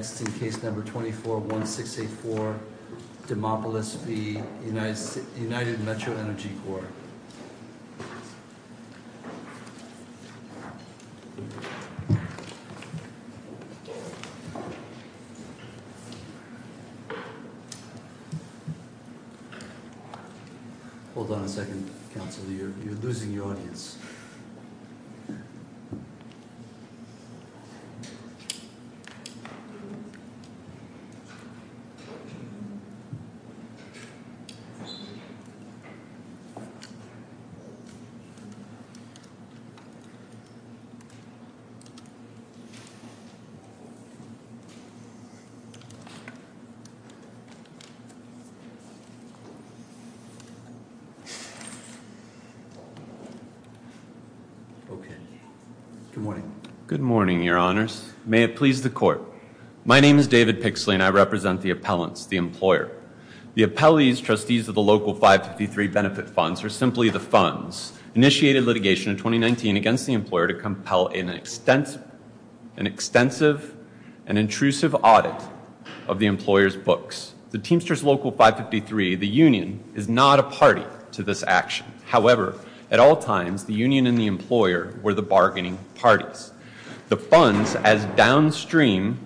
Hold on a second Councilor, you're losing your audience. Okay, good morning. Good morning, Your Honors. May it please the Court. My name is David Pixley and I represent the appellants, the employer. The appellees, trustees of the Local 553 Benefit Funds are simply the funds initiated litigation in 2019 against the employer to compel an extensive and intrusive audit of the employer's books. The Teamsters Local 553, the union, is not a party to this action. However, at all times, the union and the employer were the bargaining parties. The funds, as downstream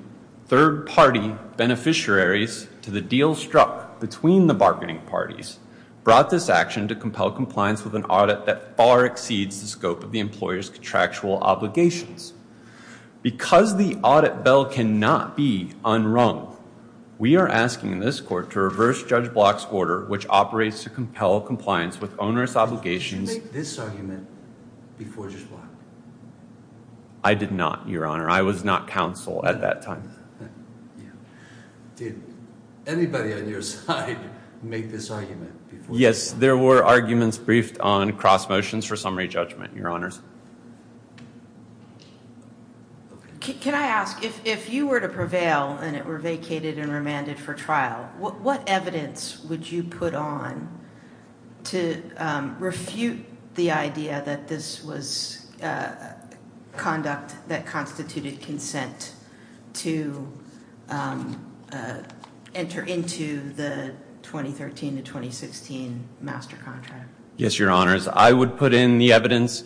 third-party beneficiaries to the deal struck between the bargaining parties, brought this action to compel compliance with an audit that far exceeds the scope of the employer's contractual obligations. Because the audit bell cannot be unrung, we are asking this Court to reverse Judge Block's order, which operates to compel compliance with onerous obligations. Did you make this argument before Judge Block? I did not, Your Honor. I was not counsel at that time. Did anybody on your side make this argument? Yes, there were arguments briefed on cross motions for summary judgment, Your Honors. Can I ask, if you were to prevail and it were vacated and remanded for trial, what evidence would you put on to refute the idea that this was conduct that constituted consent to enter into the 2013 to 2016 master contract? Yes, Your Honors. I would put in the evidence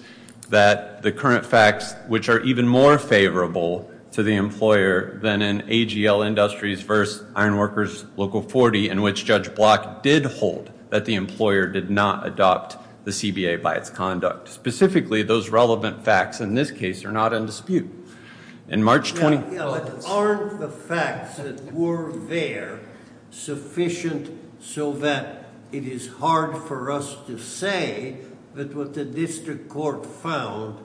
that the current facts, which are even more favorable to the employer than in AGL Industries v. Ironworkers Local 40, in which Judge Block did hold that the employer did not adopt the CBA by its conduct. Specifically, those relevant facts in this case are not in dispute. Aren't the facts that were there sufficient so that it is hard for us to say that what the district court found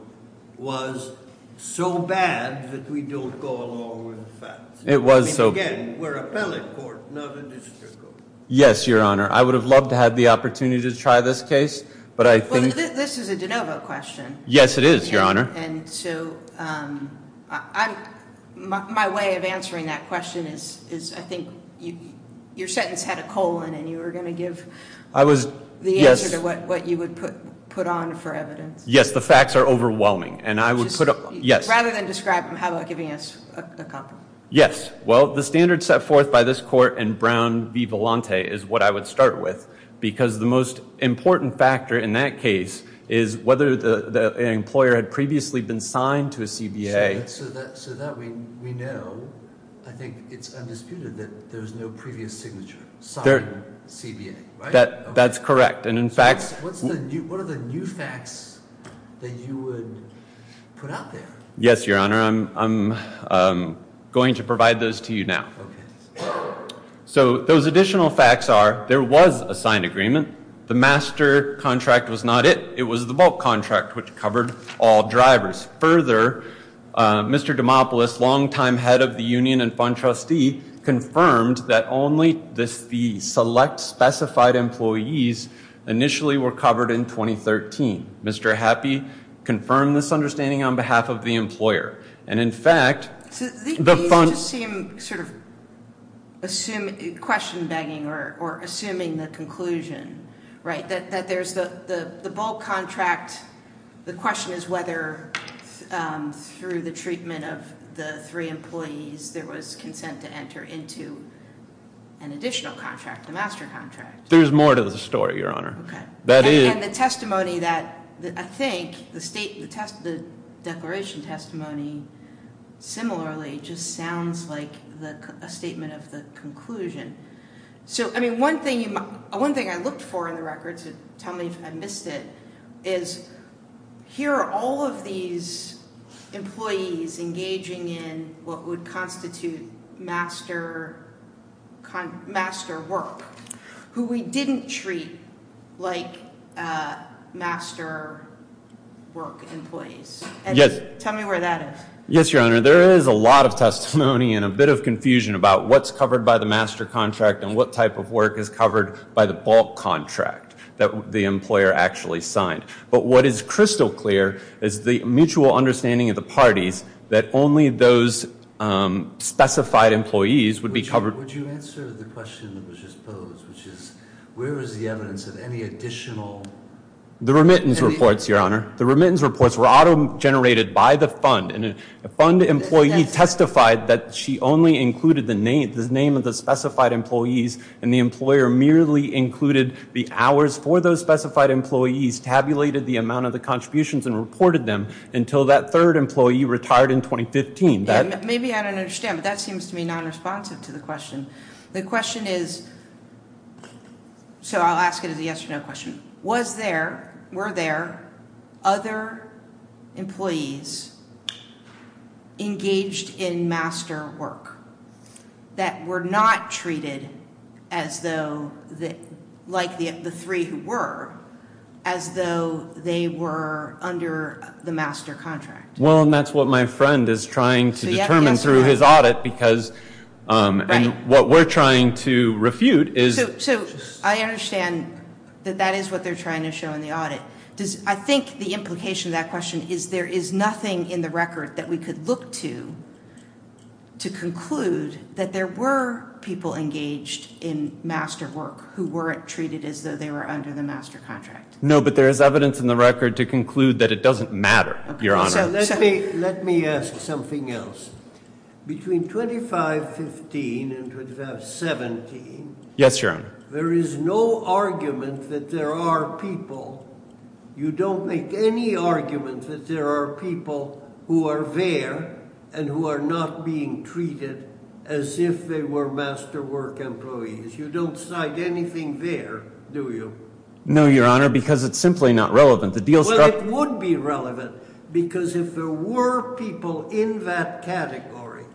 was so bad that we don't go along with the facts? It was so bad. Again, we're appellate court, not a district court. Yes, Your Honor. I would have loved to have the opportunity to try this case, but I think... Well, this is a de novo question. Yes, it is, Your Honor. My way of answering that question is I think your sentence had a colon and you were going to give the answer to what you would put on for evidence. Yes, the facts are overwhelming. Rather than describe them, how about giving us a copy? Well, the standards set forth by this court in Brown v. Volante is what I would start with, because the most important factor in that case is whether the employer had previously been signed to a CBA. So that we know, I think it's undisputed that there's no previous signature, signed CBA, right? That's correct, and in fact... What are the new facts that you would put out there? Yes, Your Honor. I'm going to provide those to you now. So, those additional facts are there was a signed agreement. The master contract was not it. It was the bulk contract, which covered all drivers. Further, Mr. Dimopoulos, longtime head of the union and fund trustee, confirmed that only the select specified employees initially were covered in 2013. Mr. Happy confirmed this understanding on behalf of the employer, and in fact... These just seem sort of question-begging or assuming the conclusion, right, that there's the bulk contract. The question is whether, through the treatment of the three employees, there was consent to enter into an additional contract, the master contract. There's more to the story, Your Honor. Okay. And the testimony that, I think, the declaration testimony, similarly, just sounds like a statement of the conclusion. So, I mean, one thing I looked for in the records, and tell me if I missed it, is here are all of these employees engaging in what would constitute master work, who we didn't treat like master work employees. Yes. Tell me where that is. Yes, Your Honor. There is a lot of testimony and a bit of confusion about what's covered by the master contract and what type of work is covered by the bulk contract that the employer actually signed. But what is crystal clear is the mutual understanding of the parties that only those specified employees would be covered... Would you answer the question that was just posed, which is where is the evidence of any additional... The remittance reports, Your Honor. The remittance reports were auto-generated by the fund, and a fund employee testified that she only included the name of the specified employees, and the employer merely included the hours for those specified employees, tabulated the amount of the contributions, and reported them until that third employee retired in 2015. Maybe I don't understand, but that seems to me non-responsive to the question. The question is... So, I'll ask it as a yes or no question. Was there, were there, other employees engaged in master work that were not treated as though, like the three who were, as though they were under the master contract? Well, and that's what my friend is trying to determine through his audit, because, and what we're trying to refute is... So, I understand that that is what they're trying to show in the audit. Does, I think the implication of that question is there is nothing in the record that we could look to, to conclude that there were people engaged in master work who weren't treated as though they were under the master contract. No, but there is evidence in the record to conclude that it doesn't matter, Your Honor. So, let me, let me ask something else. Between 2515 and 2517... Yes, Your Honor. There is no argument that there are people, you don't make any argument that there are people who are there and who are not being treated as if they were master work employees. You don't cite anything there, do you? No, Your Honor, because it's simply not relevant. Well, it would be relevant, because if there were people in that category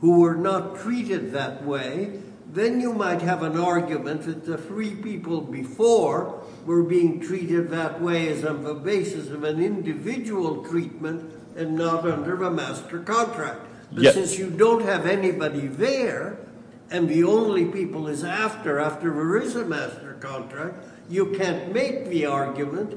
who were not treated that way, then you might have an argument that the three people before were being treated that way as on the basis of an individual treatment and not under a master contract. Yes. But since you don't have anybody there, and the only people is after, after there is a master contract, you can't make the argument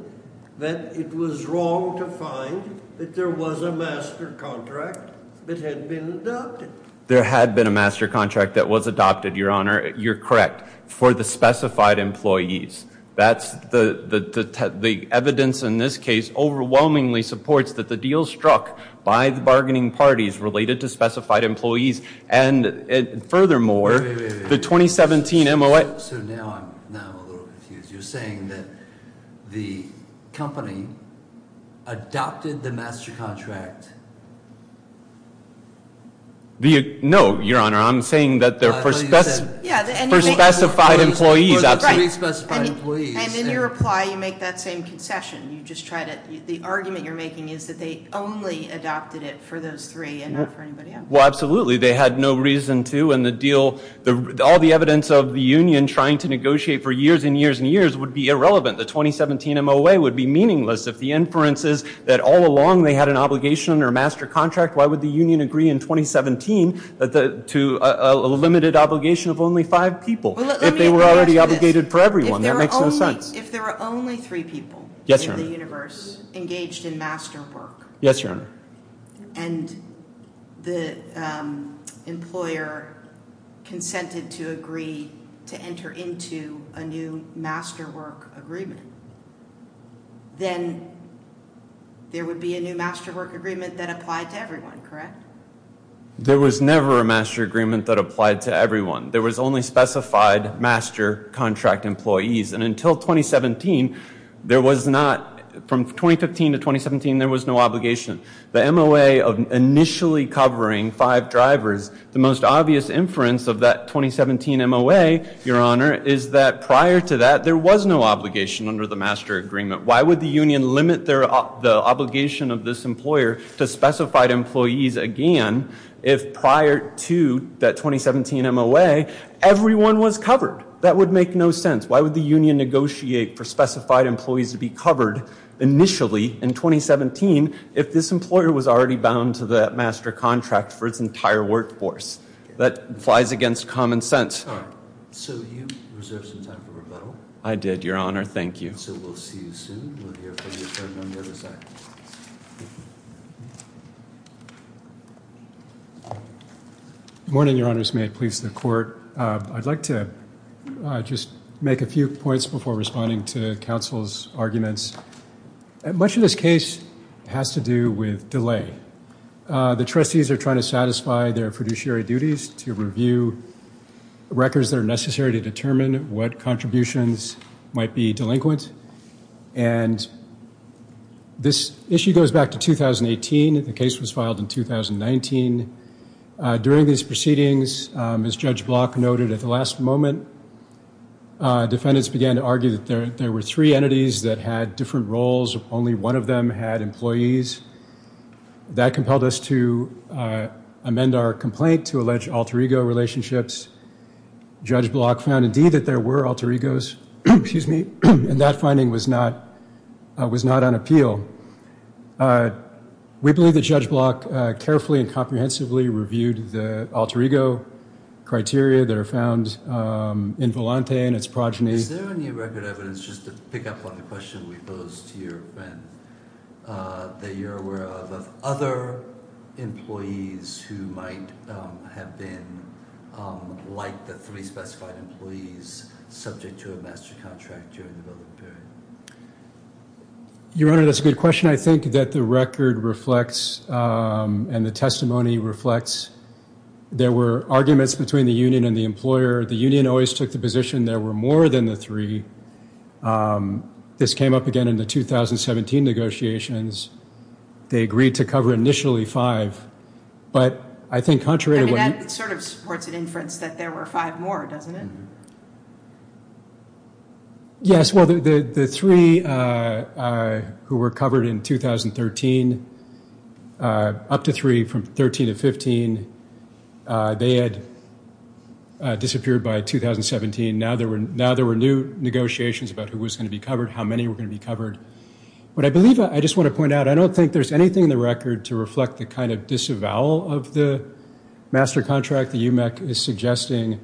that it was wrong to find that there was a master contract that had been adopted. There had been a master contract that was adopted, Your Honor. You're correct. for the specified employees. That's the, the evidence in this case overwhelmingly supports that the deal struck by the bargaining parties related to specified employees, and furthermore... Wait, wait, wait. The 2017 MOA... So, now I'm, now I'm a little confused. You're saying that the company adopted the master contract... No, Your Honor, I'm saying that they're for specified employees. For the three specified employees. And in your reply, you make that same concession. You just try to, the argument you're making is that they only adopted it for those three and not for anybody else. Well, absolutely. They had no reason to, and the deal, all the evidence of the union trying to negotiate for years and years and years would be irrelevant. The 2017 MOA would be meaningless if the inference is that all along they had an obligation under a master contract. Why would the union agree in 2017 to a limited obligation of only five people? Well, let me add to this. If they were already obligated for everyone, that makes no sense. If there were only three people... Yes, Your Honor.... in the universe engaged in master work... Yes, Your Honor.... and the employer consented to agree to enter into a new master work agreement, then there would be a new master work agreement that applied to everyone, correct? There was never a master agreement that applied to everyone. There was only specified master contract employees. And until 2017, there was not... from 2015 to 2017, there was no obligation. The MOA of initially covering five drivers, the most obvious inference of that 2017 MOA, Your Honor, is that prior to that, there was no obligation under the master agreement. Why would the union limit the obligation of this employer to specified employees again if prior to that 2017 MOA, everyone was covered? That would make no sense. Why would the union negotiate for specified employees to be covered initially in 2017 if this employer was already bound to that master contract for its entire workforce? That flies against common sense. All right. So, you reserved some time for rebuttal. I did, Your Honor. Thank you. So, we'll see you soon. We'll hear from you in a moment on the other side. Good morning, Your Honors. May it please the Court. I'd like to just make a few points before responding to counsel's arguments. Much of this case has to do with delay. The trustees are trying to satisfy their fiduciary duties to review records that are necessary to determine what contributions might be delinquent. And this issue goes back to 2018. The case was filed in 2019. During these proceedings, as Judge Block noted at the last moment, defendants began to argue that there were three entities that had different roles. Only one of them had employees. That compelled us to amend our complaint to allege alter ego relationships. Judge Block found, indeed, that there were alter egos, and that finding was not on appeal. We believe that Judge Block carefully and comprehensively reviewed the alter ego criteria that are found in Volante and its progeny. Is there any record evidence, just to pick up on the question we posed to your friend, that you're aware of, of other employees who might have been like the three specified employees subject to a master contract during the building period? Your Honor, that's a good question. I think that the record reflects, and the testimony reflects, there were arguments between the union and the employer. The union always took the position there were more than the three. This came up again in the 2017 negotiations. They agreed to cover initially five, but I think contrary to what you... I mean, that sort of supports an inference that there were five more, doesn't it? Yes, well, the three who were covered in 2013, up to three from 13 to 15, they had disappeared by 2017. Now there were new negotiations about who was going to be covered, how many were going to be covered. But I believe, I just want to point out, I don't think there's anything in the record to reflect the kind of disavowal of the master contract the UMEC is suggesting.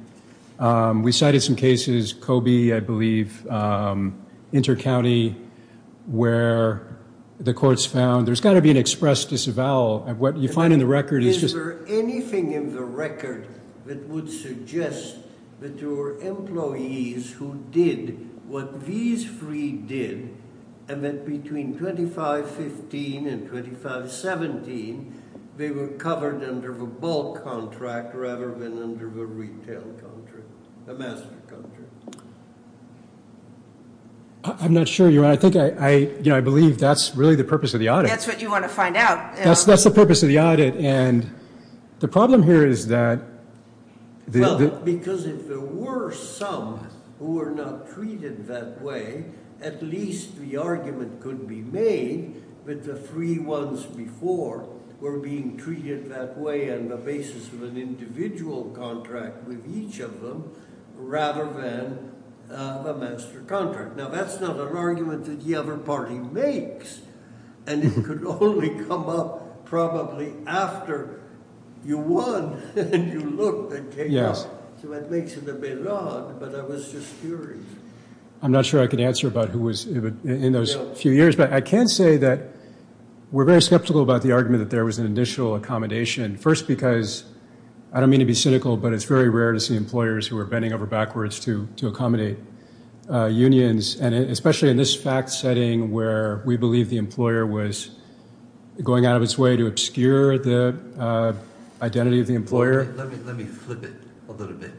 We cited some cases, Kobe, I believe, Intercounty, where the courts found there's got to be an express disavowal. What you find in the record is just... Is there anything in the record that would suggest that there were employees who did what these three did, and that between 2515 and 2517, they were covered under the bulk contract rather than under the retail contract, the master contract? I'm not sure, Your Honor. I think I, you know, I believe that's really the purpose of the audit. That's what you want to find out. That's the purpose of the audit, and the problem here is that... Well, because if there were some who were not treated that way, at least the argument could be made that the three ones before were being treated that way on the basis of an individual contract with each of them, rather than a master contract. Now, that's not an argument that the other party makes, and it could only come up probably after you won and you looked and came up. Yes. So that makes it a bit odd, but I was just curious. I'm not sure I could answer about who was in those few years, but I can say that we're very skeptical about the argument that there was an initial accommodation. First, because I don't mean to be cynical, but it's very rare to see employers who are bending over backwards to accommodate unions, and especially in this fact setting where we believe the employer was going out of its way to obscure the identity of the employer. Let me flip it a little bit.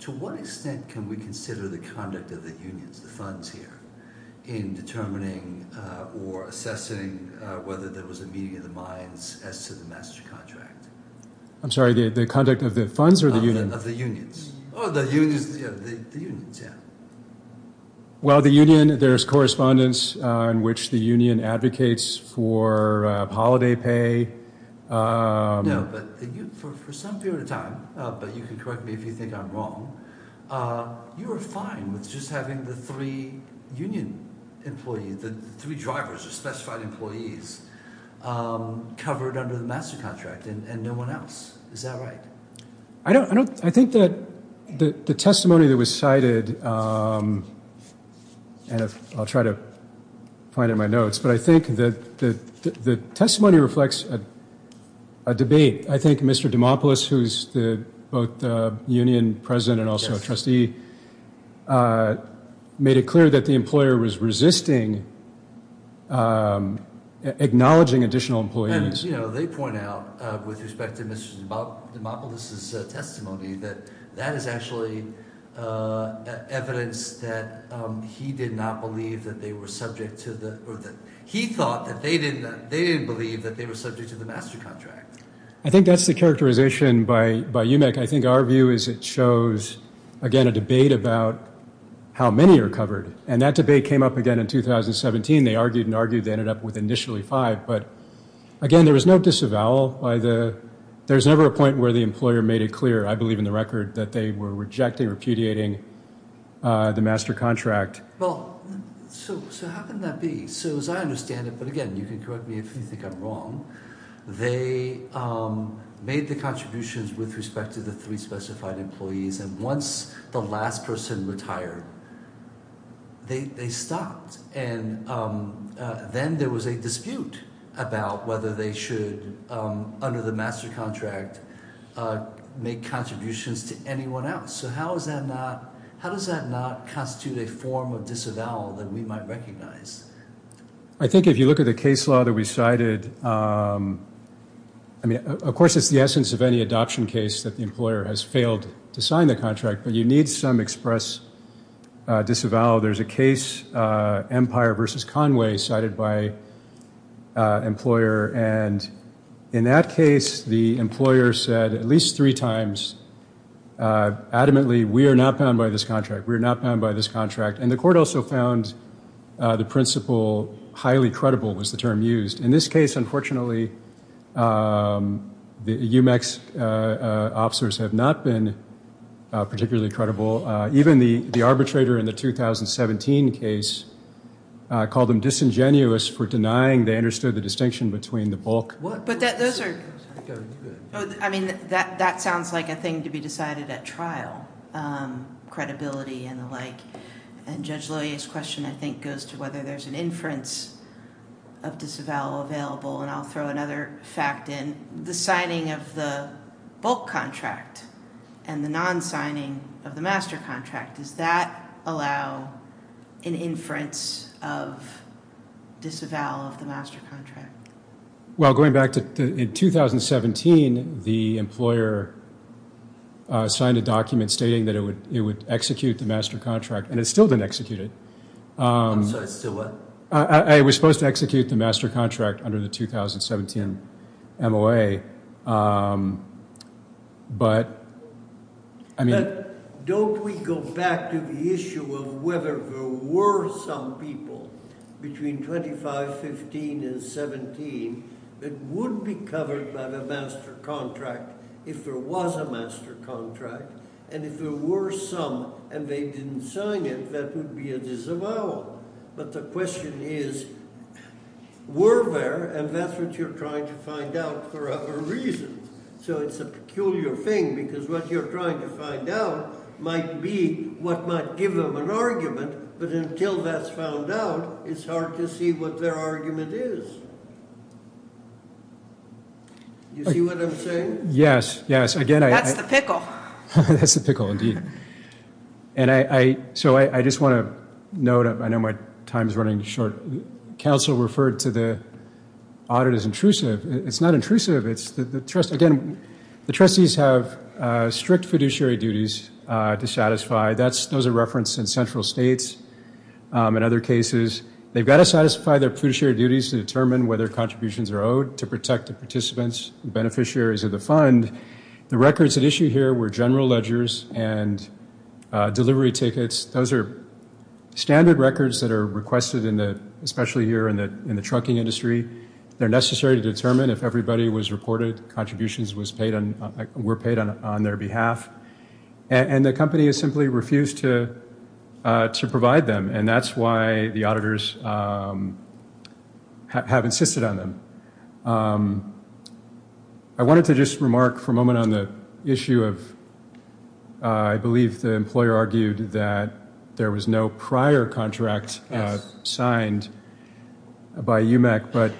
To what extent can we consider the conduct of the unions, the funds here, in determining or assessing whether there was a meeting of the minds as to the master contract? I'm sorry, the conduct of the funds or the union? Of the unions. Oh, the unions, yeah. Well, the union, there's correspondence in which the union advocates for holiday pay. No, but for some period of time, but you can correct me if you think I'm wrong, you were fine with just having the three union employees, the three drivers, the specified employees, covered under the master contract and no one else. Is that right? I think that the testimony that was cited, and I'll try to find it in my notes, but I think that the testimony reflects a debate. I think Mr. Dimopoulos, who's both union president and also a trustee, made it clear that the employer was resisting acknowledging additional employees. And they point out, with respect to Mr. Dimopoulos' testimony, that that is actually evidence that he did not believe that they were subject to the, or that he thought that they didn't believe that they were subject to the master contract. I think that's the characterization by UMIC. I think our view is it shows, again, a debate about how many are covered. And that debate came up again in 2017. They argued and argued they ended up with initially five. But, again, there was no disavowal by the, there's never a point where the employer made it clear, I believe in the record, that they were rejecting or repudiating the master contract. Well, so how can that be? So as I understand it, but again, you can correct me if you think I'm wrong, they made the contributions with respect to the three specified employees. And once the last person retired, they stopped. And then there was a dispute about whether they should, under the master contract, make contributions to anyone else. So how is that not, how does that not constitute a form of disavowal that we might recognize? I think if you look at the case law that we cited, I mean, of course, it's the essence of any adoption case that the employer has failed to sign the contract. But you need some express disavowal. There's a case, Empire versus Conway, cited by an employer. And in that case, the employer said at least three times, adamantly, we are not bound by this contract. We are not bound by this contract. And the court also found the principle highly credible was the term used. In this case, unfortunately, the UMEX officers have not been particularly credible. Even the arbitrator in the 2017 case called them disingenuous for denying they understood the distinction between the bulk. I mean, that sounds like a thing to be decided at trial, credibility and the like. And Judge Loyer's question, I think, goes to whether there's an inference of disavowal available. And I'll throw another fact in. The signing of the bulk contract and the non-signing of the master contract, does that allow an inference of disavowal of the master contract? Well, going back to 2017, the employer signed a document stating that it would execute the master contract. And it still didn't execute it. I'm sorry, still what? It was supposed to execute the master contract under the 2017 MOA. But, I mean... Don't we go back to the issue of whether there were some people between 25, 15 and 17 that would be covered by the master contract if there was a master contract? And if there were some and they didn't sign it, that would be a disavowal. But the question is, were there? And that's what you're trying to find out for other reasons. So it's a peculiar thing because what you're trying to find out might be what might give them an argument. But until that's found out, it's hard to see what their argument is. You see what I'm saying? Yes, yes. That's the pickle. That's the pickle, indeed. So I just want to note, I know my time is running short. Counsel referred to the audit as intrusive. It's not intrusive. Again, the trustees have strict fiduciary duties to satisfy. Those are referenced in central states and other cases. They've got to satisfy their fiduciary duties to determine whether contributions are owed to protect the participants and beneficiaries of the fund. The records at issue here were general ledgers and delivery tickets. Those are standard records that are requested, especially here in the trucking industry. They're necessary to determine if everybody was reported, contributions were paid on their behalf. And the company has simply refused to provide them. And that's why the auditors have insisted on them. I wanted to just remark for a moment on the issue of, I believe the employer argued that there was no prior contract signed by UMEC. But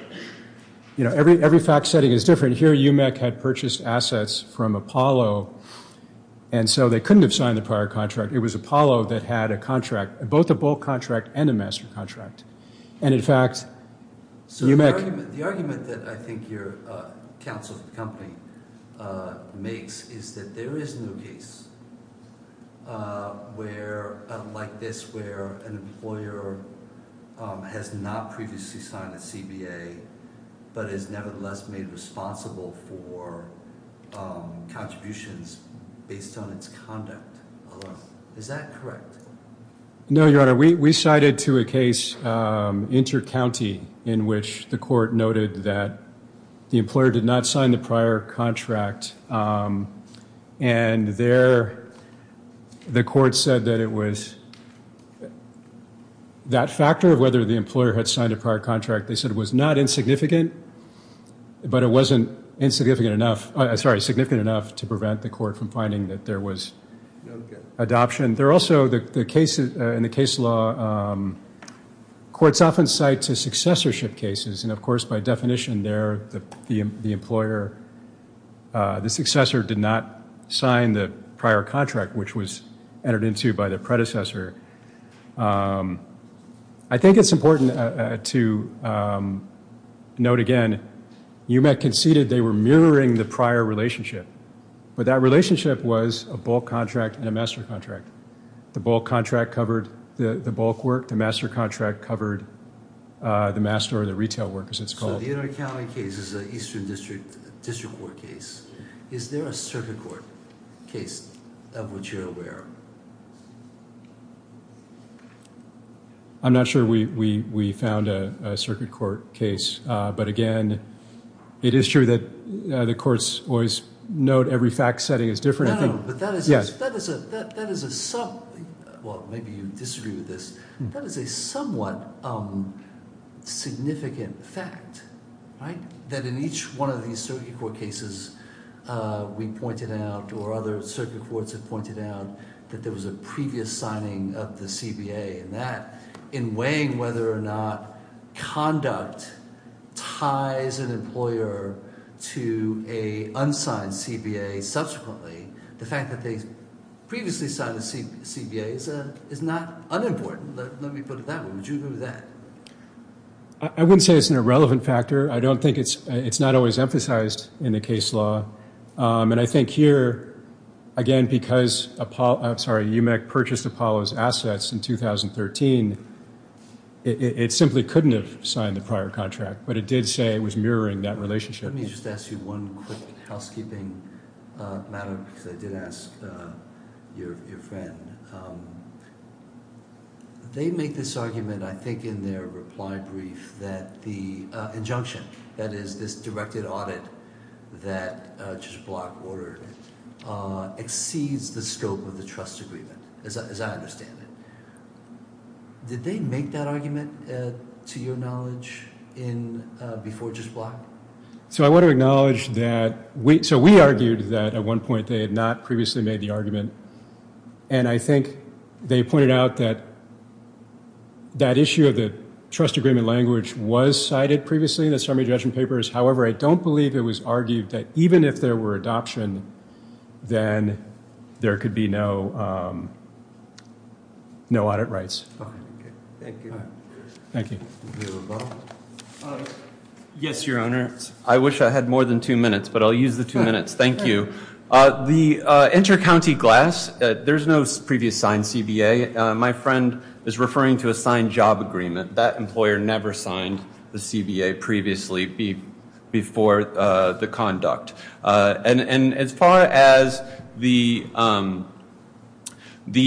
every fact setting is different. Here, UMEC had purchased assets from Apollo, and so they couldn't have signed the prior contract. It was Apollo that had a contract, both a bulk contract and a master contract. The argument that I think your counsel for the company makes is that there is no case like this where an employer has not previously signed a CBA, but is nevertheless made responsible for contributions based on its conduct. Is that correct? No, Your Honor. We cited to a case inter-county in which the court noted that the employer did not sign the prior contract. And there, the court said that it was that factor of whether the employer had signed a prior contract. They said it was not insignificant, but it wasn't significant enough to prevent the court from finding that there was adoption. In the case law, courts often cite successorship cases. And of course, by definition, there, the employer, the successor did not sign the prior contract, which was entered into by the predecessor. I think it's important to note again, UMEC conceded they were mirroring the prior relationship. But that relationship was a bulk contract and a master contract. The bulk contract covered the bulk work. The master contract covered the master or the retail work, as it's called. So the inter-county case is an Eastern District District Court case. Is there a circuit court case of which you're aware? I'm not sure we found a circuit court case. But again, it is true that the courts always note every fact setting is different. Well, maybe you disagree with this. That is a somewhat significant fact, right? I think that in each one of these circuit court cases we pointed out, or other circuit courts have pointed out, that there was a previous signing of the CBA. And that, in weighing whether or not conduct ties an employer to an unsigned CBA subsequently, the fact that they previously signed the CBA is not unimportant. Let me put it that way. Would you agree with that? I wouldn't say it's an irrelevant factor. I don't think it's not always emphasized in the case law. And I think here, again, because UMEC purchased Apollo's assets in 2013, it simply couldn't have signed the prior contract. But it did say it was mirroring that relationship. Let me just ask you one quick housekeeping matter, because I did ask your friend. They make this argument, I think in their reply brief, that the injunction, that is, this directed audit that Judge Block ordered, exceeds the scope of the trust agreement, as I understand it. Did they make that argument, to your knowledge, before Judge Block? So I want to acknowledge that we argued that at one point they had not previously made the argument. And I think they pointed out that that issue of the trust agreement language was cited previously in the summary judgment papers. However, I don't believe it was argued that even if there were adoption, then there could be no audit rights. Thank you. Thank you. Yes, Your Honor. I wish I had more than two minutes, but I'll use the two minutes. Thank you. The inter-county glass, there's no previous signed CBA. My friend is referring to a signed job agreement. That employer never signed the CBA previously before the conduct. And as far as the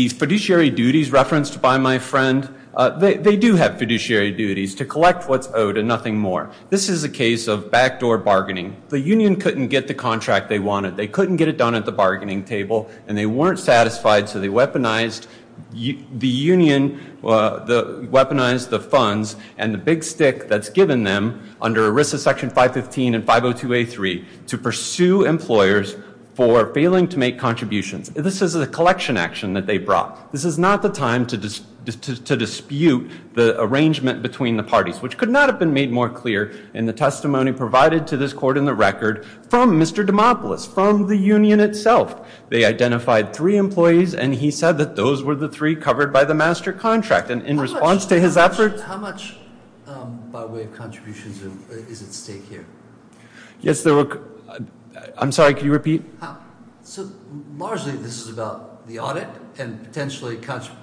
fiduciary duties referenced by my friend, they do have fiduciary duties, to collect what's owed and nothing more. This is a case of backdoor bargaining. The union couldn't get the contract they wanted. They couldn't get it done at the bargaining table. And they weren't satisfied, so the union weaponized the funds and the big stick that's given them under ERISA section 515 and 502A3 to pursue employers for failing to make contributions. This is a collection action that they brought. This is not the time to dispute the arrangement between the parties, which could not have been made more clear in the testimony provided to this court in the record from Mr. Dimopoulos, from the union itself. They identified three employees, and he said that those were the three covered by the master contract. And in response to his efforts— How much, by way of contributions, is at stake here? Yes, there were—I'm sorry, could you repeat? So largely this is about the audit and potentially contributions.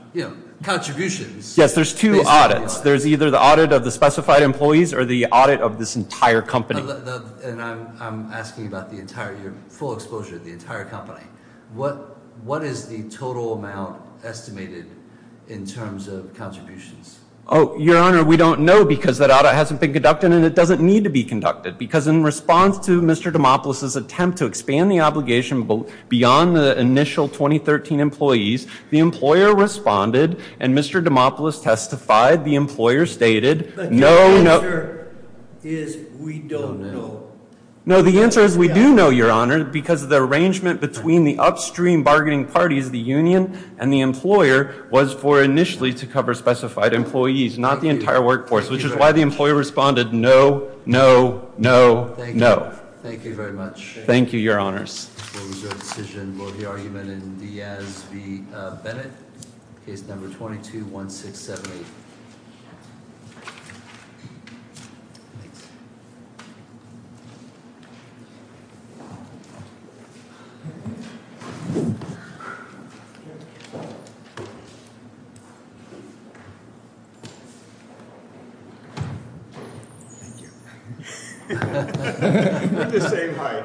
Yes, there's two audits. There's either the audit of the specified employees or the audit of this entire company. And I'm asking about the entire—your full exposure to the entire company. What is the total amount estimated in terms of contributions? Oh, Your Honor, we don't know because that audit hasn't been conducted, and it doesn't need to be conducted. Because in response to Mr. Dimopoulos' attempt to expand the obligation beyond the initial 2013 employees, the employer responded, and Mr. Dimopoulos testified, the employer stated— But your answer is we don't know. No, the answer is we do know, Your Honor, because the arrangement between the upstream bargaining parties, the union and the employer, was for initially to cover specified employees, not the entire workforce. Which is why the employer responded, no, no, no, no. Thank you very much. Thank you, Your Honors. The result of the decision will be argument in Diaz v. Bennett, case number 221678. Thank you. We're the same height.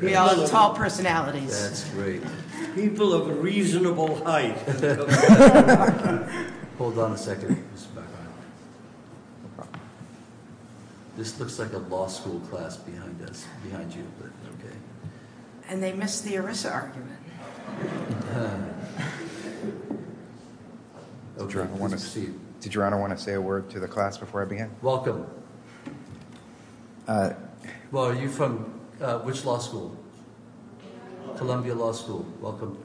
We all have tall personalities. That's great. People of reasonable height. Hold on a second. This looks like a law school class behind us, behind you. And they missed the ERISA argument. Did Your Honor want to say a word to the class before I begin? Well, are you from which law school? Columbia Law School. Welcome.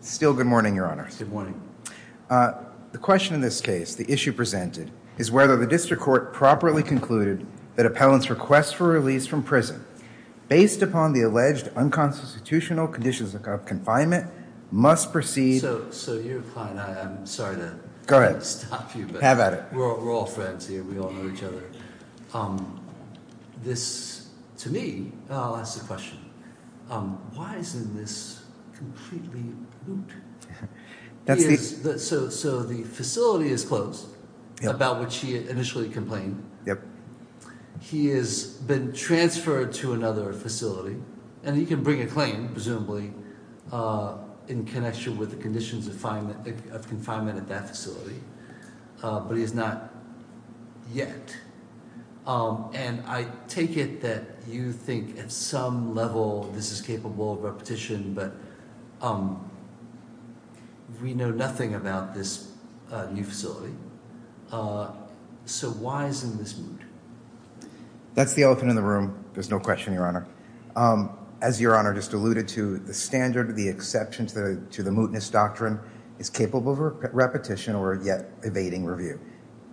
Still good morning, Your Honors. Good morning. The question in this case, the issue presented, is whether the district court properly concluded that appellants' request for release from prison, based upon the alleged unconstitutional conditions of confinement, must proceed... So, you're fine. I'm sorry to... Go ahead. ...stop you. Have at it. We're all friends here. We all know each other. This, to me... I'll ask the question. Why isn't this completely... So, the facility is closed, about which he initially complained. Yep. He has been transferred to another facility. And he can bring a claim, presumably, in connection with the conditions of confinement at that facility. But he has not yet. And I take it that you think at some level this is capable of repetition, but we know nothing about this new facility. So, why isn't this moot? That's the elephant in the room. There's no question, Your Honor. As Your Honor just alluded to, the standard, the exception to the mootness doctrine is capable of repetition or, yet, evading review.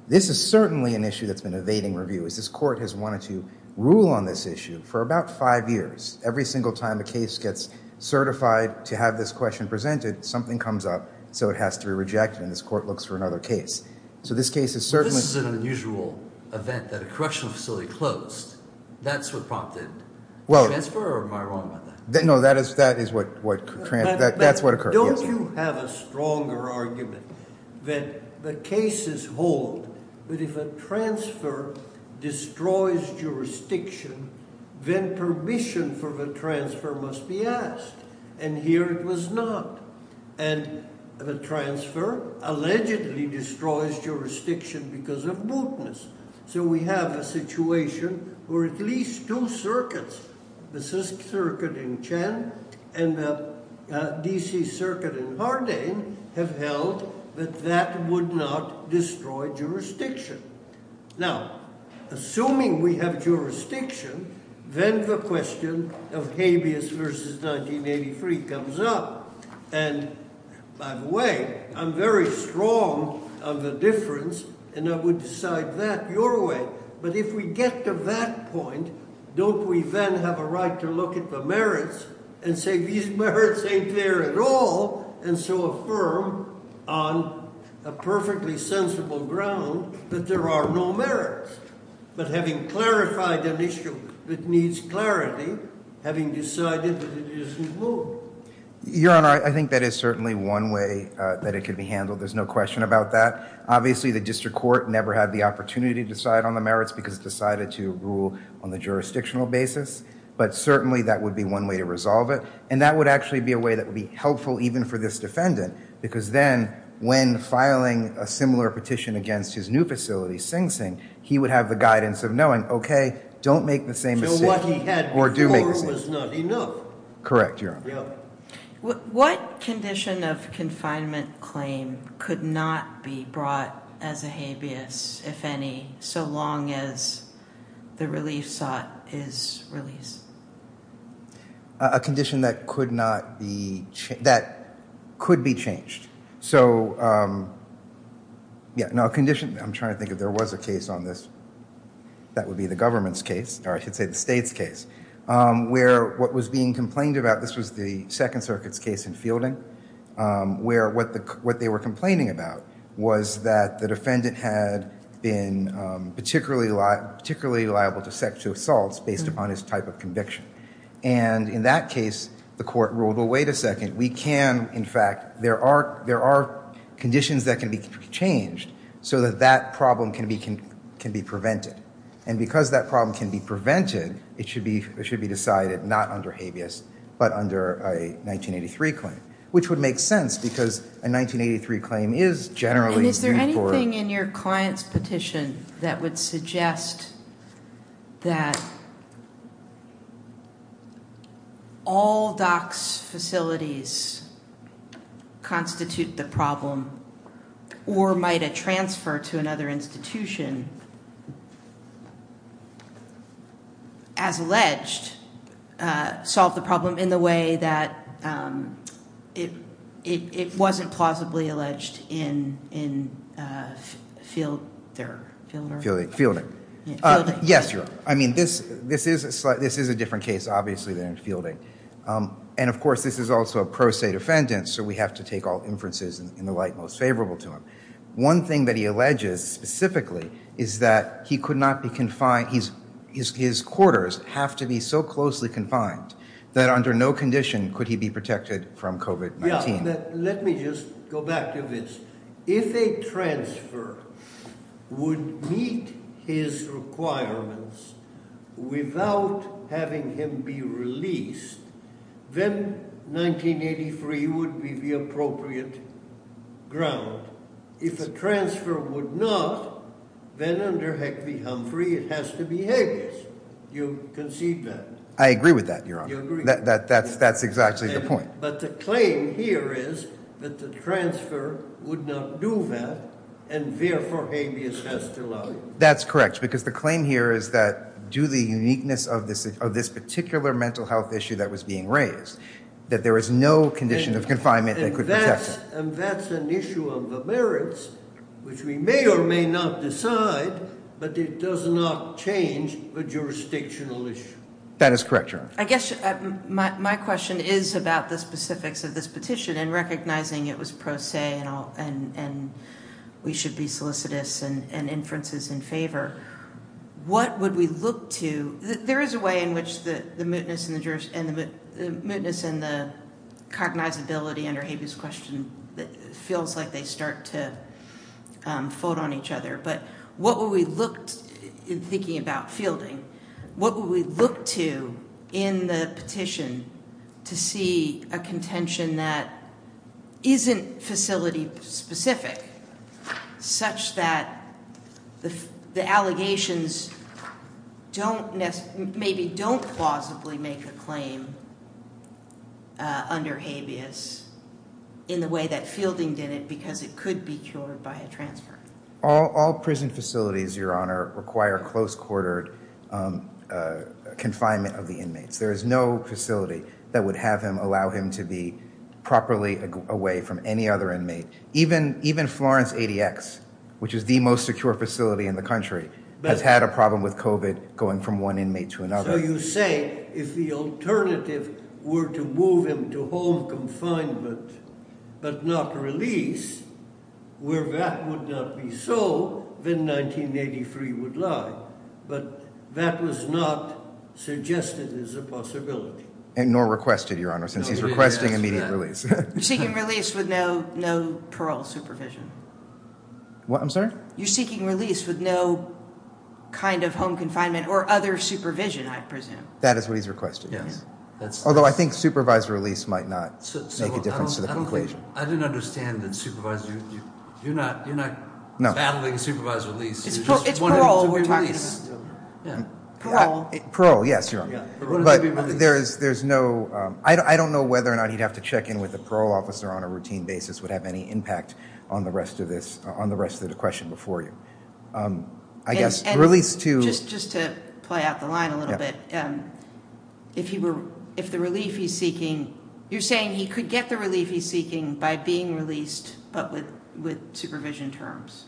This is certainly an issue that's been evading review, as this court has wanted to rule on this issue for about five years. Every single time a case gets certified to have this question presented, something comes up, so it has to be rejected, and this court looks for another case. So, this case is certainly... This is an unusual event that a correctional facility closed. That's what prompted the transfer, or am I wrong about that? No, that is what occurred. Don't you have a stronger argument that the cases hold that if a transfer destroys jurisdiction, then permission for the transfer must be asked? And here it was not. And the transfer allegedly destroys jurisdiction because of mootness. So, we have a situation where at least two circuits, the CISC circuit in Chen and the DC circuit in Hardane, have held that that would not destroy jurisdiction. Now, assuming we have jurisdiction, then the question of habeas versus 1983 comes up. And, by the way, I'm very strong on the difference, and I would decide that your way. But if we get to that point, don't we then have a right to look at the merits and say these merits ain't there at all, and so affirm on a perfectly sensible ground that there are no merits. But having clarified an issue that needs clarity, having decided that it isn't moot. Your Honor, I think that is certainly one way that it could be handled. There's no question about that. Obviously, the district court never had the opportunity to decide on the merits because it decided to rule on the jurisdictional basis. But certainly, that would be one way to resolve it. And that would actually be a way that would be helpful even for this defendant. Because then, when filing a similar petition against his new facility, Sing Sing, he would have the guidance of knowing, okay, don't make the same mistake. Or do make the same mistake. Correct, Your Honor. What condition of confinement claim could not be brought as a habeas, if any, so long as the relief sought is released? A condition that could not be, that could be changed. So, yeah, no, a condition, I'm trying to think if there was a case on this, that would be the government's case, or I should say the state's case, where what was being complained about, this was the Second Circuit's case in Fielding, where what they were complaining about was that the defendant had been particularly liable to sexual assaults based upon his type of conviction. And in that case, the court ruled, well, wait a second, we can, in fact, there are conditions that can be changed so that that problem can be prevented. And because that problem can be prevented, it should be decided not under habeas, but under a 1983 claim. Which would make sense, because a 1983 claim is generally used for... As alleged, solve the problem in the way that it wasn't plausibly alleged in Fielding. Fielding. Yes, Your Honor. I mean, this is a different case, obviously, than in Fielding. And, of course, this is also a pro se defendant, so we have to take all inferences in the light most favorable to him. One thing that he alleges specifically is that he could not be confined, his quarters have to be so closely confined that under no condition could he be protected from COVID-19. Let me just go back to this. If a transfer would meet his requirements without having him be released, then 1983 would be the appropriate ground. If a transfer would not, then under Heck v. Humphrey it has to be habeas. Do you concede that? I agree with that, Your Honor. That's exactly the point. But the claim here is that the transfer would not do that, and therefore habeas has to lie. That's correct, because the claim here is that due to the uniqueness of this particular mental health issue that was being raised, that there is no condition of confinement that could protect him. And that's an issue of the merits, which we may or may not decide, but it does not change the jurisdictional issue. That is correct, Your Honor. I guess my question is about the specifics of this petition and recognizing it was pro se and we should be solicitous and inferences in favor. What would we look to? There is a way in which the mootness and the cognizability under habeas question feels like they start to fold on each other, but what would we look to in thinking about fielding? What would we look to in the petition to see a contention that isn't facility specific such that the allegations maybe don't plausibly make a claim under habeas in the way that fielding did it because it could be cured by a transfer? All prison facilities, Your Honor, require close quarter confinement of the inmates. There is no facility that would have him allow him to be properly away from any other inmate. Even Florence ADX, which is the most secure facility in the country, has had a problem with COVID going from one inmate to another. So you say if the alternative were to move him to home confinement but not release, where that would not be so, then 1983 would lie. But that was not suggested as a possibility. Nor requested, Your Honor, since he's requesting immediate release. You're seeking release with no parole supervision. What? I'm sorry? You're seeking release with no kind of home confinement or other supervision, I presume. That is what he's requested, yes. Although I think supervised release might not make a difference to the conclusion. I didn't understand the supervised. You're not battling supervised release. It's parole we're talking about. Parole. Parole, yes, Your Honor. But there's no, I don't know whether or not he'd have to check in with a parole officer on a routine basis would have any impact on the rest of the question before you. I guess release to. Just to play out the line a little bit. If the relief he's seeking, you're saying he could get the relief he's seeking by being released but with supervision terms.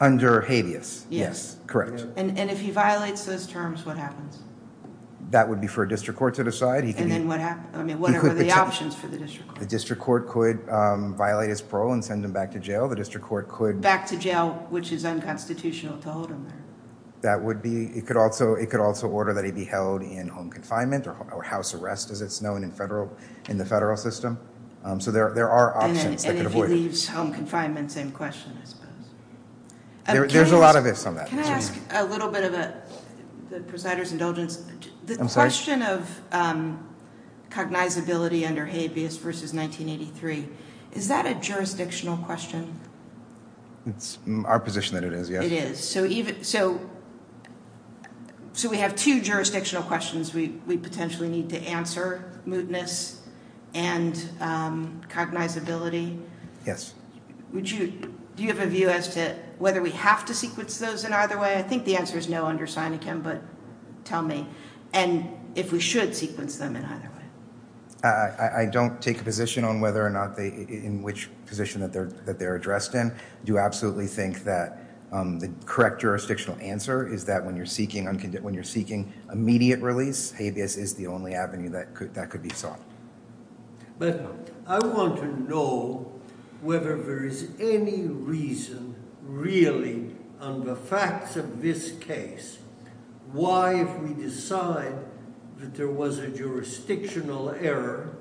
Under habeas, yes, correct. And if he violates those terms, what happens? That would be for a district court to decide. And then what happens? I mean, what are the options for the district court? The district court could violate his parole and send him back to jail. The district court could... Back to jail, which is unconstitutional to hold him there. That would be, it could also order that he be held in home confinement or house arrest as it's known in the federal system. So there are options that could avoid... And if he leaves home confinement, same question, I suppose. There's a lot of ifs on that. Can I ask a little bit of a presider's indulgence? I'm sorry? The question of cognizability under habeas versus 1983, is that a jurisdictional question? It's our position that it is, yes. It is. So we have two jurisdictional questions we potentially need to answer, mootness and cognizability. Yes. Do you have a view as to whether we have to sequence those in either way? I think the answer is no under Seneca, but tell me. And if we should sequence them in either way. I don't take a position on whether or not they, in which position that they're addressed in. I do absolutely think that the correct jurisdictional answer is that when you're seeking immediate release, habeas is the only avenue that could be sought. But I want to know whether there is any reason, really, on the facts of this case, why if we decide that there was a jurisdictional error,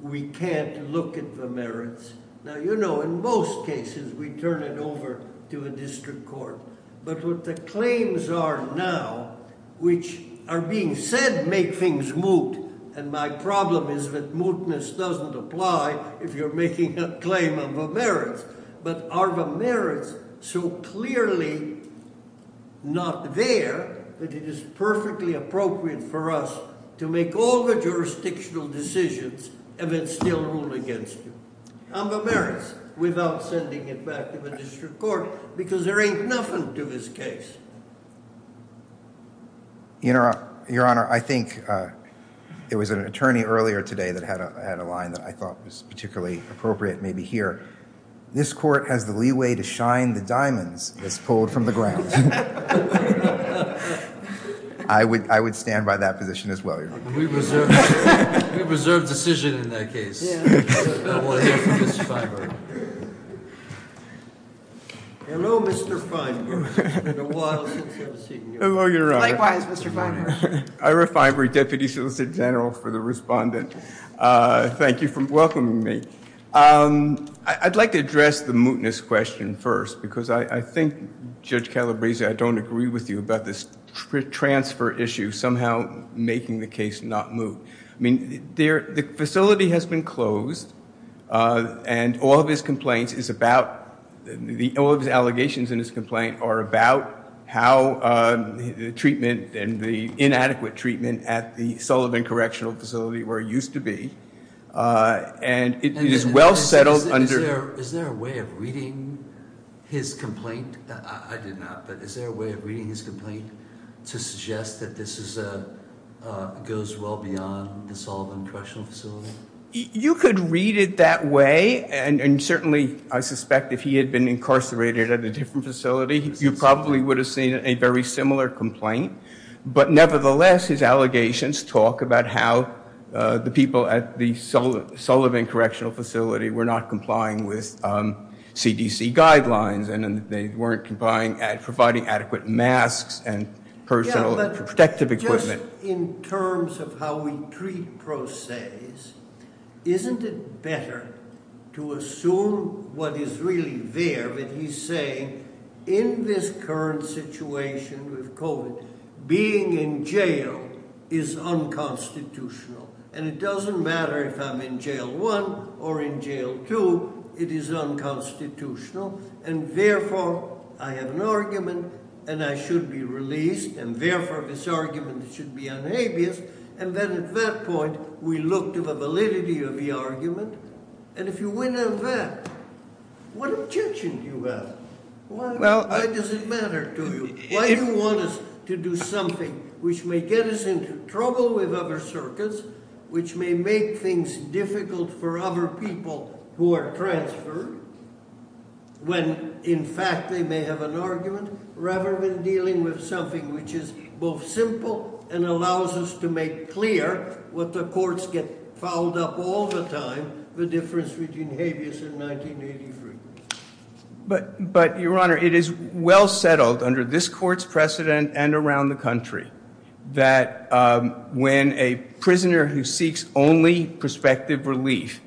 we can't look at the merits. Now, you know, in most cases, we turn it over to a district court. But what the claims are now, which are being said make things moot, and my problem is that mootness doesn't apply if you're making a claim on the merits. But are the merits so clearly not there that it is perfectly appropriate for us to make all the jurisdictional decisions and then still rule against you on the merits without sending it back to the district court? Because there ain't nothing to this case. Your Honor, I think there was an attorney earlier today that had a line that I thought was particularly appropriate maybe here. This court has the leeway to shine the diamonds that's pulled from the ground. I would stand by that position as well. We reserve decision in that case. Hello, Mr. Feinberg. Likewise, Mr. Feinberg. Ira Feinberg, Deputy Solicitor General for the Respondent. Thank you for welcoming me. I'd like to address the mootness question first because I think, Judge Calabresi, I don't agree with you about this transfer issue somehow making the case not moot. I mean, the facility has been closed, and all of his complaints is about, all of the allegations in his complaint are about how the treatment and the inadequate treatment at the Sullivan Correctional Facility where it used to be, and it is well settled under the- Is there a way of reading his complaint? I did not, but is there a way of reading his complaint to suggest that this goes well beyond the Sullivan Correctional Facility? You could read it that way, and certainly I suspect if he had been incarcerated at a different facility, you probably would have seen a very similar complaint, but nevertheless his allegations talk about how the people at the Sullivan Correctional Facility were not complying with CDC guidelines and that they weren't providing adequate masks and personal protective equipment. Yeah, but just in terms of how we treat pro ses, isn't it better to assume what is really there? But he's saying in this current situation with COVID, being in jail is unconstitutional, and it doesn't matter if I'm in Jail 1 or in Jail 2, it is unconstitutional, and therefore I have an argument and I should be released, and therefore this argument should be unabased, and then at that point we look to the validity of the argument, and if you win on that, what objection do you have? Why does it matter to you? Why do you want us to do something which may get us into trouble with other circuits, which may make things difficult for other people who are transferred, when in fact they may have an argument, rather than dealing with something which is both simple and allows us to make clear what the courts get fouled up all the time, the difference between habeas and 1983. But, Your Honor, it is well settled under this court's precedent and around the country that when a prisoner who seeks only prospective relief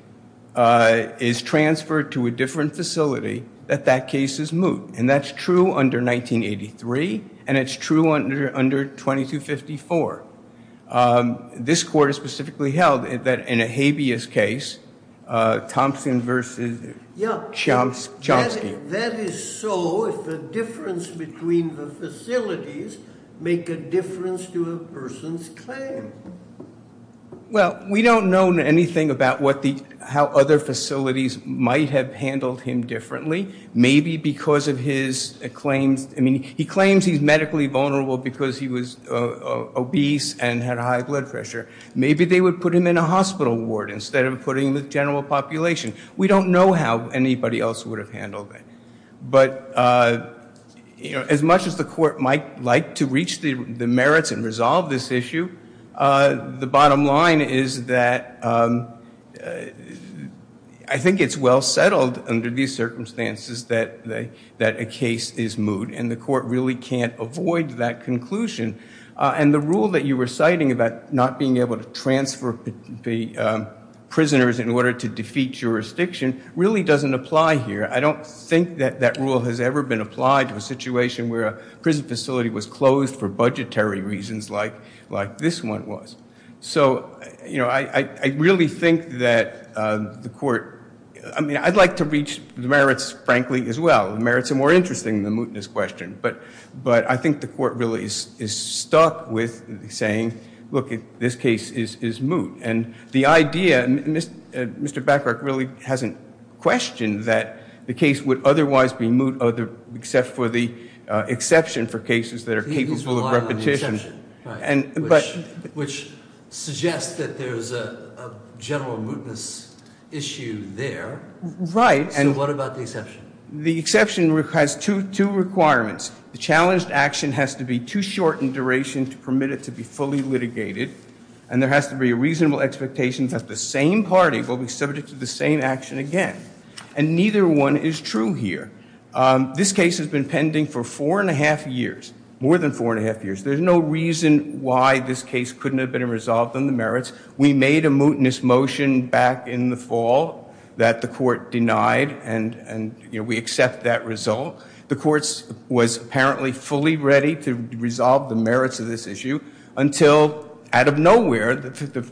is transferred to a different facility, that that case is moot, and that's true under 1983, and it's true under 2254. This court has specifically held that in a habeas case, Thompson versus Chomsky. That is so if the difference between the facilities make a difference to a person's claim. Well, we don't know anything about how other facilities might have handled him differently. Maybe because of his claims, I mean, he claims he's medically vulnerable because he was obese and had high blood pressure. Maybe they would put him in a hospital ward instead of putting him with general population. We don't know how anybody else would have handled it. But, you know, as much as the court might like to reach the merits and resolve this issue, the bottom line is that I think it's well settled under these circumstances that a case is moot, and the court really can't avoid that conclusion. And the rule that you were citing about not being able to transfer the prisoners in order to defeat jurisdiction really doesn't apply here. I don't think that that rule has ever been applied to a situation where a prison facility was closed for budgetary reasons like this one was. So, you know, I really think that the court, I mean, I'd like to reach the merits, frankly, as well. The merits are more interesting than the mootness question. But I think the court really is stuck with saying, look, this case is moot. And the idea, Mr. Bacharach really hasn't questioned that the case would otherwise be moot except for the exception for cases that are capable of repetition. He's relying on the exception, right, which suggests that there's a general mootness issue there. Right. So what about the exception? The exception has two requirements. The challenged action has to be too short in duration to permit it to be fully litigated, and there has to be a reasonable expectation that the same party will be subject to the same action again. And neither one is true here. This case has been pending for four and a half years, more than four and a half years. There's no reason why this case couldn't have been resolved on the merits. We made a mootness motion back in the fall that the court denied, and we accept that result. The court was apparently fully ready to resolve the merits of this issue until, out of nowhere, the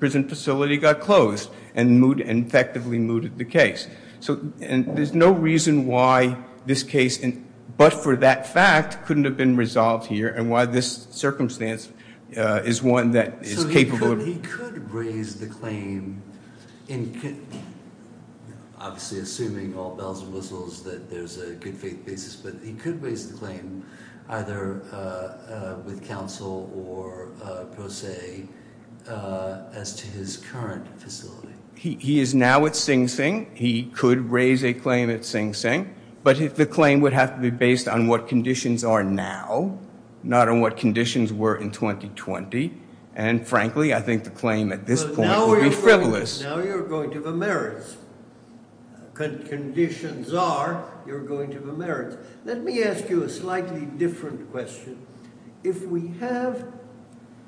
prison facility got closed and effectively mooted the case. So there's no reason why this case, but for that fact, couldn't have been resolved here and why this circumstance is one that is capable of- So he could raise the claim, obviously assuming all bells and whistles that there's a good faith basis, but he could raise the claim either with counsel or pro se as to his current facility. He is now at Sing Sing. He could raise a claim at Sing Sing. But the claim would have to be based on what conditions are now, not on what conditions were in 2020. And frankly, I think the claim at this point would be frivolous. Now you're going to the merits. Conditions are, you're going to the merits. Let me ask you a slightly different question. If we have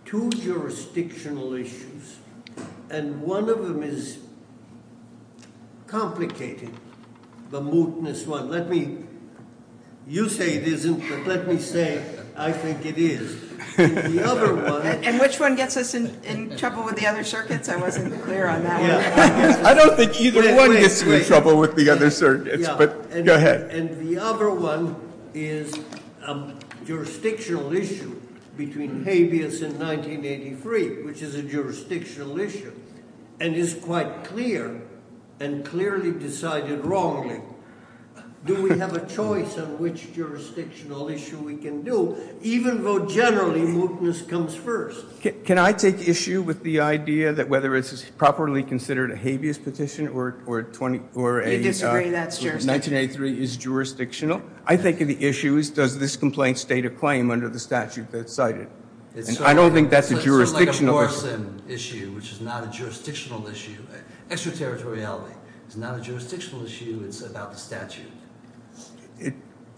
two jurisdictional issues, and one of them is complicated, the mootness one. Let me, you say it isn't, but let me say I think it is. The other one- And which one gets us in trouble with the other circuits? I wasn't clear on that one. I don't think either one gets you in trouble with the other circuits, but go ahead. And the other one is a jurisdictional issue between habeas and 1983, which is a jurisdictional issue and is quite clear and clearly decided wrongly. Do we have a choice on which jurisdictional issue we can do? Even though generally mootness comes first. Can I take issue with the idea that whether it's properly considered a habeas petition or a- You disagree, that's your- 1983 is jurisdictional? I think the issue is does this complaint state a claim under the statute that's cited? And I don't think that's a jurisdictional- It's sort of like a Morrison issue, which is not a jurisdictional issue. Extraterritoriality is not a jurisdictional issue. It's about the statute.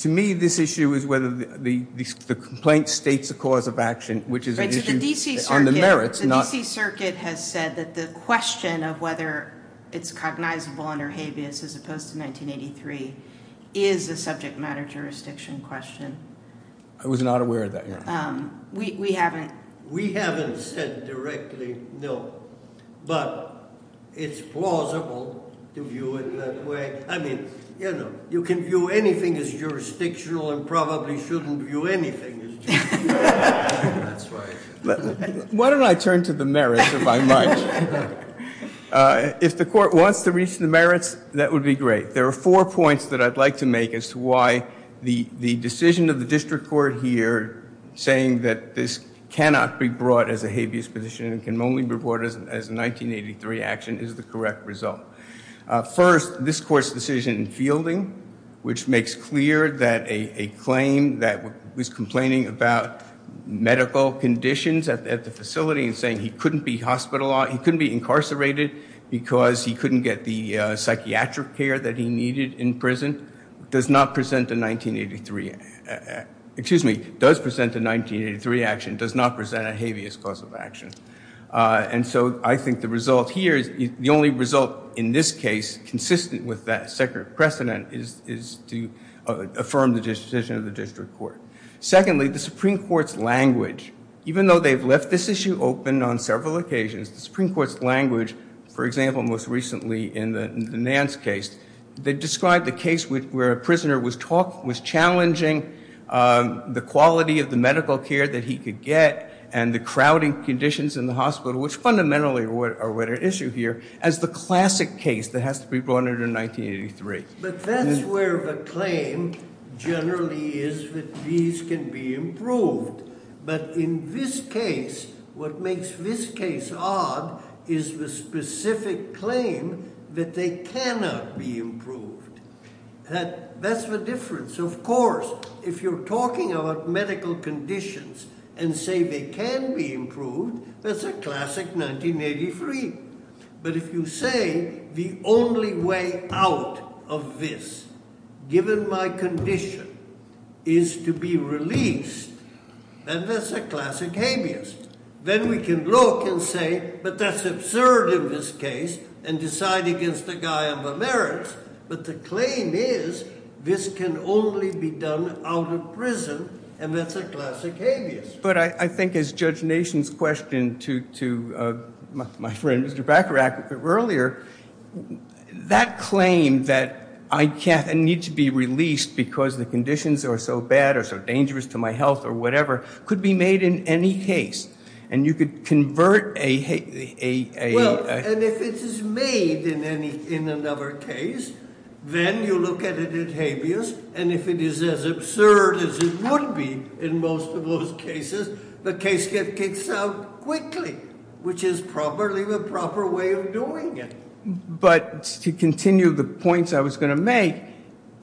To me, this issue is whether the complaint states a cause of action, which is an issue on the merits, not- is a subject matter jurisdiction question. I was not aware of that, yeah. We haven't- We haven't said directly no, but it's plausible to view it that way. I mean, you know, you can view anything as jurisdictional and probably shouldn't view anything as jurisdictional. That's right. Why don't I turn to the merits, if I might? If the court wants to reach the merits, that would be great. There are four points that I'd like to make as to why the decision of the district court here, saying that this cannot be brought as a habeas position and can only be brought as a 1983 action, is the correct result. First, this court's decision in fielding, which makes clear that a claim that was complaining about medical conditions at the facility and saying he couldn't be hospitalized, he couldn't be incarcerated because he couldn't get the psychiatric care that he needed in prison, does not present a 1983- excuse me, does present a 1983 action, does not present a habeas cause of action. And so I think the result here, the only result in this case consistent with that separate precedent, is to affirm the decision of the district court. Secondly, the Supreme Court's language, even though they've left this issue open on several occasions, the Supreme Court's language, for example, most recently in the Nance case, they described the case where a prisoner was challenging the quality of the medical care that he could get and the crowding conditions in the hospital, which fundamentally are what are at issue here, as the classic case that has to be brought under 1983. But that's where the claim generally is that these can be improved. But in this case, what makes this case odd is the specific claim that they cannot be improved. That's the difference. Of course, if you're talking about medical conditions and say they can be improved, that's a classic 1983. But if you say the only way out of this, given my condition, is to be released, then that's a classic habeas. Then we can look and say, but that's absurd in this case, and decide against the guy on the merits. But the claim is this can only be done out of prison, and that's a classic habeas. But I think as Judge Nation's question to my friend, Mr. Bacharach, earlier, that claim that I need to be released because the conditions are so bad or so dangerous to my health or whatever, could be made in any case, and you could convert a... Well, and if it is made in another case, then you look at it as habeas, and if it is as absurd as it would be in most of those cases, the case gets kicked out quickly, which is probably the proper way of doing it. But to continue the points I was going to make,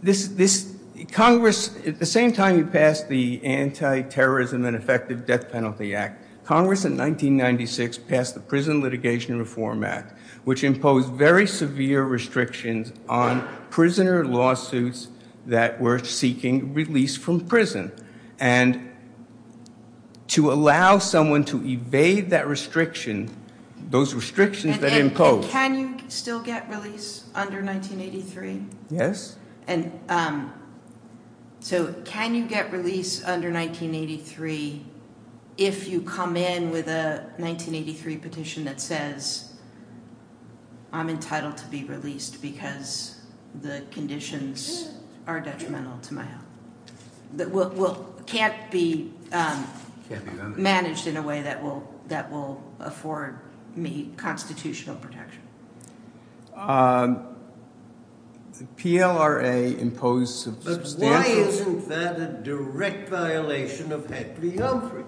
this... Congress, at the same time you passed the Anti-Terrorism and Effective Death Penalty Act, Congress in 1996 passed the Prison Litigation Reform Act, which imposed very severe restrictions on prisoner lawsuits that were seeking release from prison. And to allow someone to evade that restriction, those restrictions that imposed... And can you still get release under 1983? Yes. So can you get release under 1983 if you come in with a 1983 petition that says, I'm entitled to be released because the conditions are detrimental to my health? That can't be managed in a way that will afford me constitutional protection? PLRA imposed substantial... But why isn't that a direct violation of Heffley-Humphrey?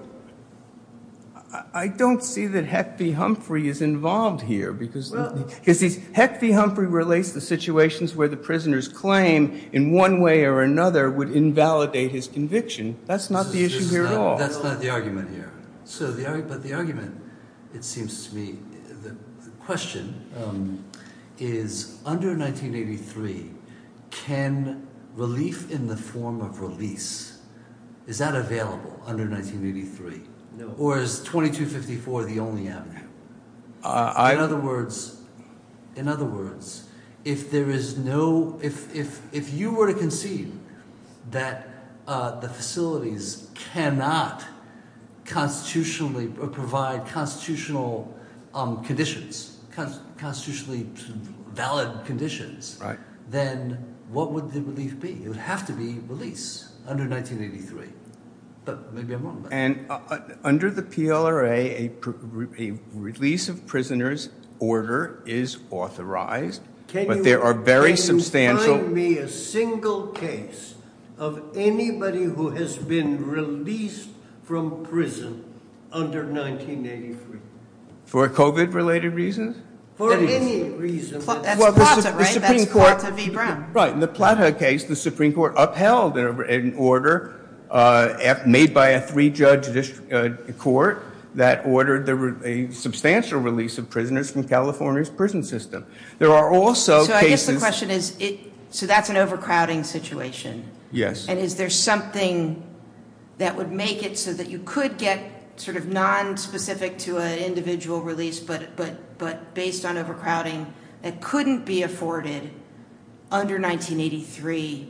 I don't see that Heffley-Humphrey is involved here, because Heffley-Humphrey relates the situations where the prisoners claim in one way or another would invalidate his conviction. That's not the issue here at all. That's not the argument here. But the argument, it seems to me, the question is, under 1983, can relief in the form of release, is that available under 1983? No. Or is 2254 the only avenue? In other words, if there is no... If you were to concede that the facilities cannot constitutionally provide constitutional conditions, constitutionally valid conditions, then what would the relief be? It would have to be release under 1983. But maybe I'm wrong. Under the PLRA, a release of prisoners order is authorized, but there are very substantial... Can you find me a single case of anybody who has been released from prison under 1983? For COVID-related reasons? For any reason. That's Plata, right? That's Plata v. Brown. Right. In the Plata case, the Supreme Court upheld an order made by a three-judge court that ordered a substantial release of prisoners from California's prison system. There are also cases... So I guess the question is, so that's an overcrowding situation? Yes. And is there something that would make it so that you could get sort of nonspecific to an individual release, but based on overcrowding, it couldn't be afforded under 1983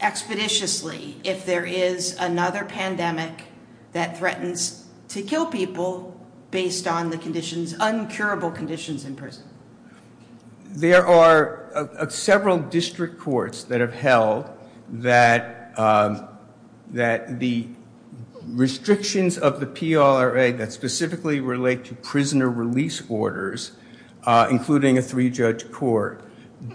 expeditiously if there is another pandemic that threatens to kill people based on the conditions, uncurable conditions in prison? There are several district courts that have held that the restrictions of the PLRA that specifically relate to prisoner release orders, including a three-judge court,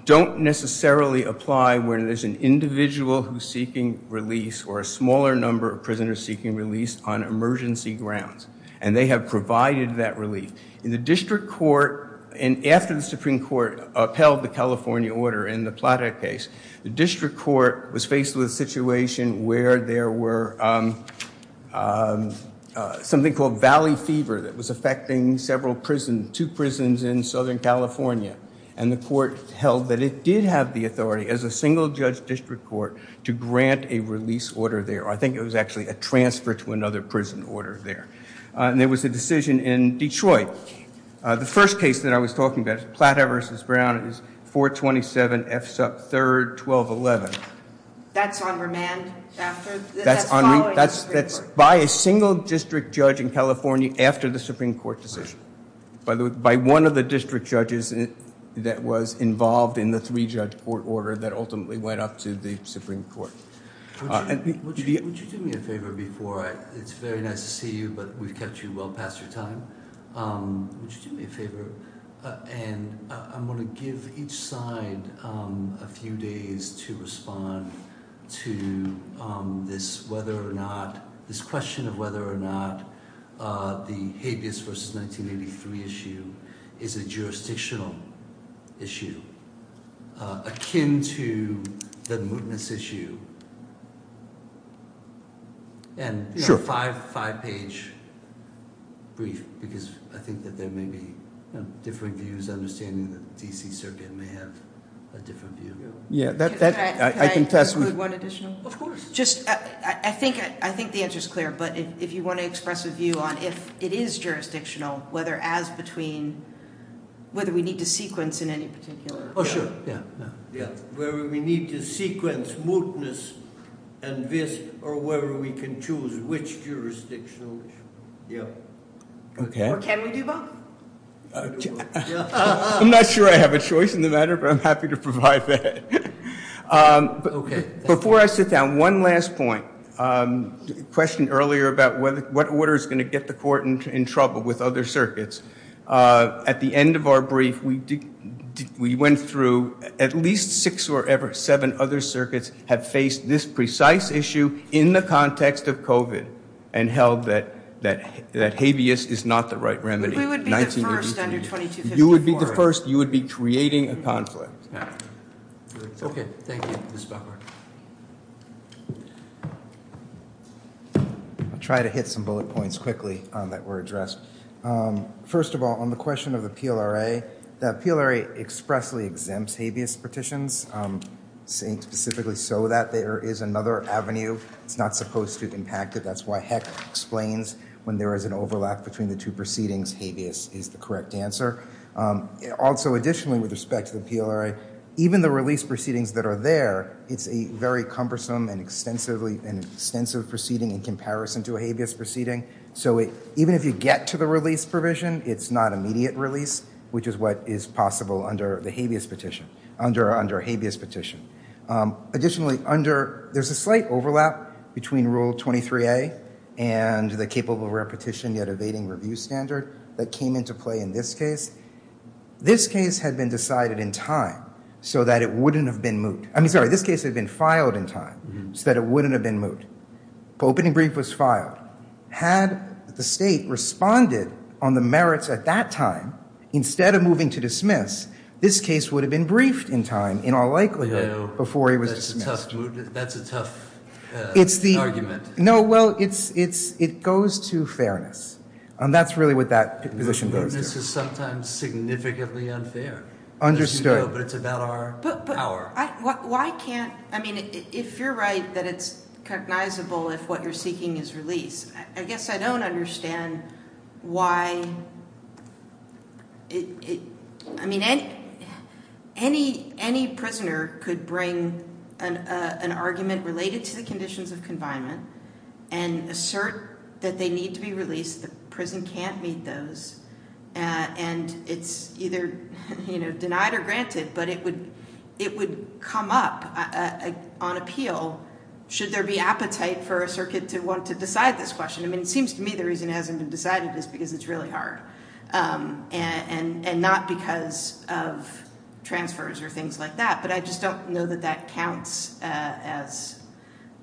don't necessarily apply when there's an individual who's seeking release or a smaller number of prisoners seeking release on emergency grounds. And they have provided that relief. In the district court, and after the Supreme Court upheld the California order in the Plata case, the district court was faced with a situation where there were something called valley fever that was affecting several prisons, two prisons in Southern California. And the court held that it did have the authority as a single-judge district court to grant a release order there. I think it was actually a transfer to another prison order there. And there was a decision in Detroit. The first case that I was talking about, Plata v. Brown, it was 427 F. Supp. 3, 1211. That's on remand after? That's by a single district judge in California after the Supreme Court decision. By one of the district judges that was involved in the three-judge court order that ultimately went up to the Supreme Court. Would you do me a favor before I – it's very nice to see you, but we've kept you well past your time. Would you do me a favor? And I'm going to give each side a few days to respond to this whether or not – this question of whether or not the habeas versus 1983 issue is a jurisdictional issue, akin to the mootness issue, and a five-page brief because I think that there may be differing views, understanding that the D.C. Circuit may have a different view. Can I include one additional? Of course. I think the answer is clear, but if you want to express a view on if it is jurisdictional, whether as between – whether we need to sequence in any particular – Oh, sure. Yeah. Whether we need to sequence mootness and this or whether we can choose which jurisdictional issue. Or can we do both? I'm not sure I have a choice in the matter, but I'm happy to provide that. Okay. Before I sit down, one last point. The question earlier about what order is going to get the court in trouble with other circuits. At the end of our brief, we went through at least six or seven other circuits have faced this precise issue in the context of COVID and held that habeas is not the right remedy. We would be the first under 2254. You would be the first. You would be creating a conflict. Okay. Thank you, Mr. Becker. I'll try to hit some bullet points quickly that were addressed. First of all, on the question of the PLRA, the PLRA expressly exempts habeas petitions, saying specifically so that there is another avenue. It's not supposed to impact it. That's why Heck explains when there is an overlap between the two proceedings, habeas is the correct answer. Also, additionally, with respect to the PLRA, even the release proceedings that are there, it's a very cumbersome and extensive proceeding in comparison to a habeas proceeding. So even if you get to the release provision, it's not immediate release, which is what is possible under the habeas petition, under a habeas petition. Additionally, there's a slight overlap between Rule 23A and the capable rare petition yet evading review standard that came into play in this case. This case had been decided in time so that it wouldn't have been moot. I mean, sorry, this case had been filed in time so that it wouldn't have been moot. Opening brief was filed. Had the state responded on the merits at that time instead of moving to dismiss, this case would have been briefed in time in all likelihood before it was dismissed. That's a tough argument. No, well, it goes to fairness, and that's really what that position goes to. Fairness is sometimes significantly unfair. Understood. But it's about our power. But why can't, I mean, if you're right that it's recognizable if what you're seeking is release, I guess I don't understand why, I mean, any prisoner could bring an argument related to the conditions of confinement and assert that they need to be released. The prison can't meet those, and it's either, you know, denied or granted, but it would come up on appeal should there be appetite for a circuit to want to decide this question. I mean, it seems to me the reason it hasn't been decided is because it's really hard and not because of transfers or things like that. But I just don't know that that counts as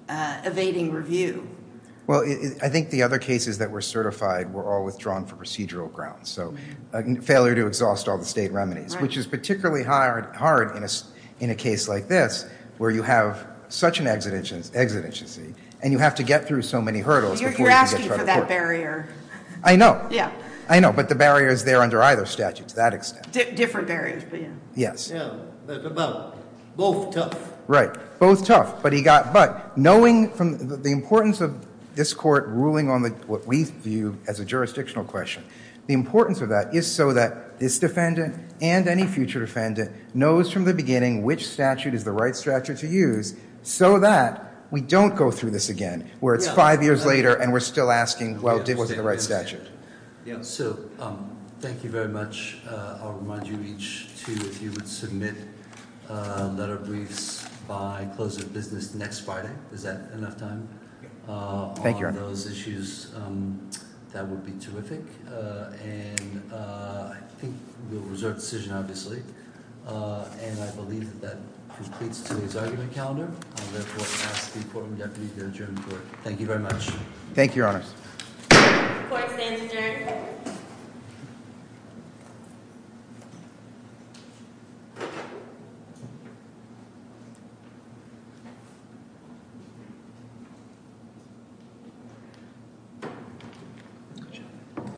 evading review. Well, I think the other cases that were certified were all withdrawn for procedural grounds, so failure to exhaust all the state remedies, which is particularly hard in a case like this where you have such an exigency, and you have to get through so many hurdles. You're asking for that barrier. I know. I know, but the barrier is there under either statute to that extent. Different barriers, but yeah. Yes. Both tough. Right. Both tough. But knowing the importance of this court ruling on what we view as a jurisdictional question, the importance of that is so that this defendant and any future defendant knows from the beginning which statute is the right statute to use so that we don't go through this again where it's five years later and we're still asking, well, was it the right statute? So thank you very much. I'll remind you each, too, if you would submit letter briefs by close of business next Friday. Is that enough time? Thank you, Your Honor. On those issues, that would be terrific. And I think we'll reserve decision, obviously. And I believe that that completes today's argument calendar. I'll therefore ask the courtroom deputy to adjourn the court. Thank you very much. Thank you, Your Honor. Court is adjourned.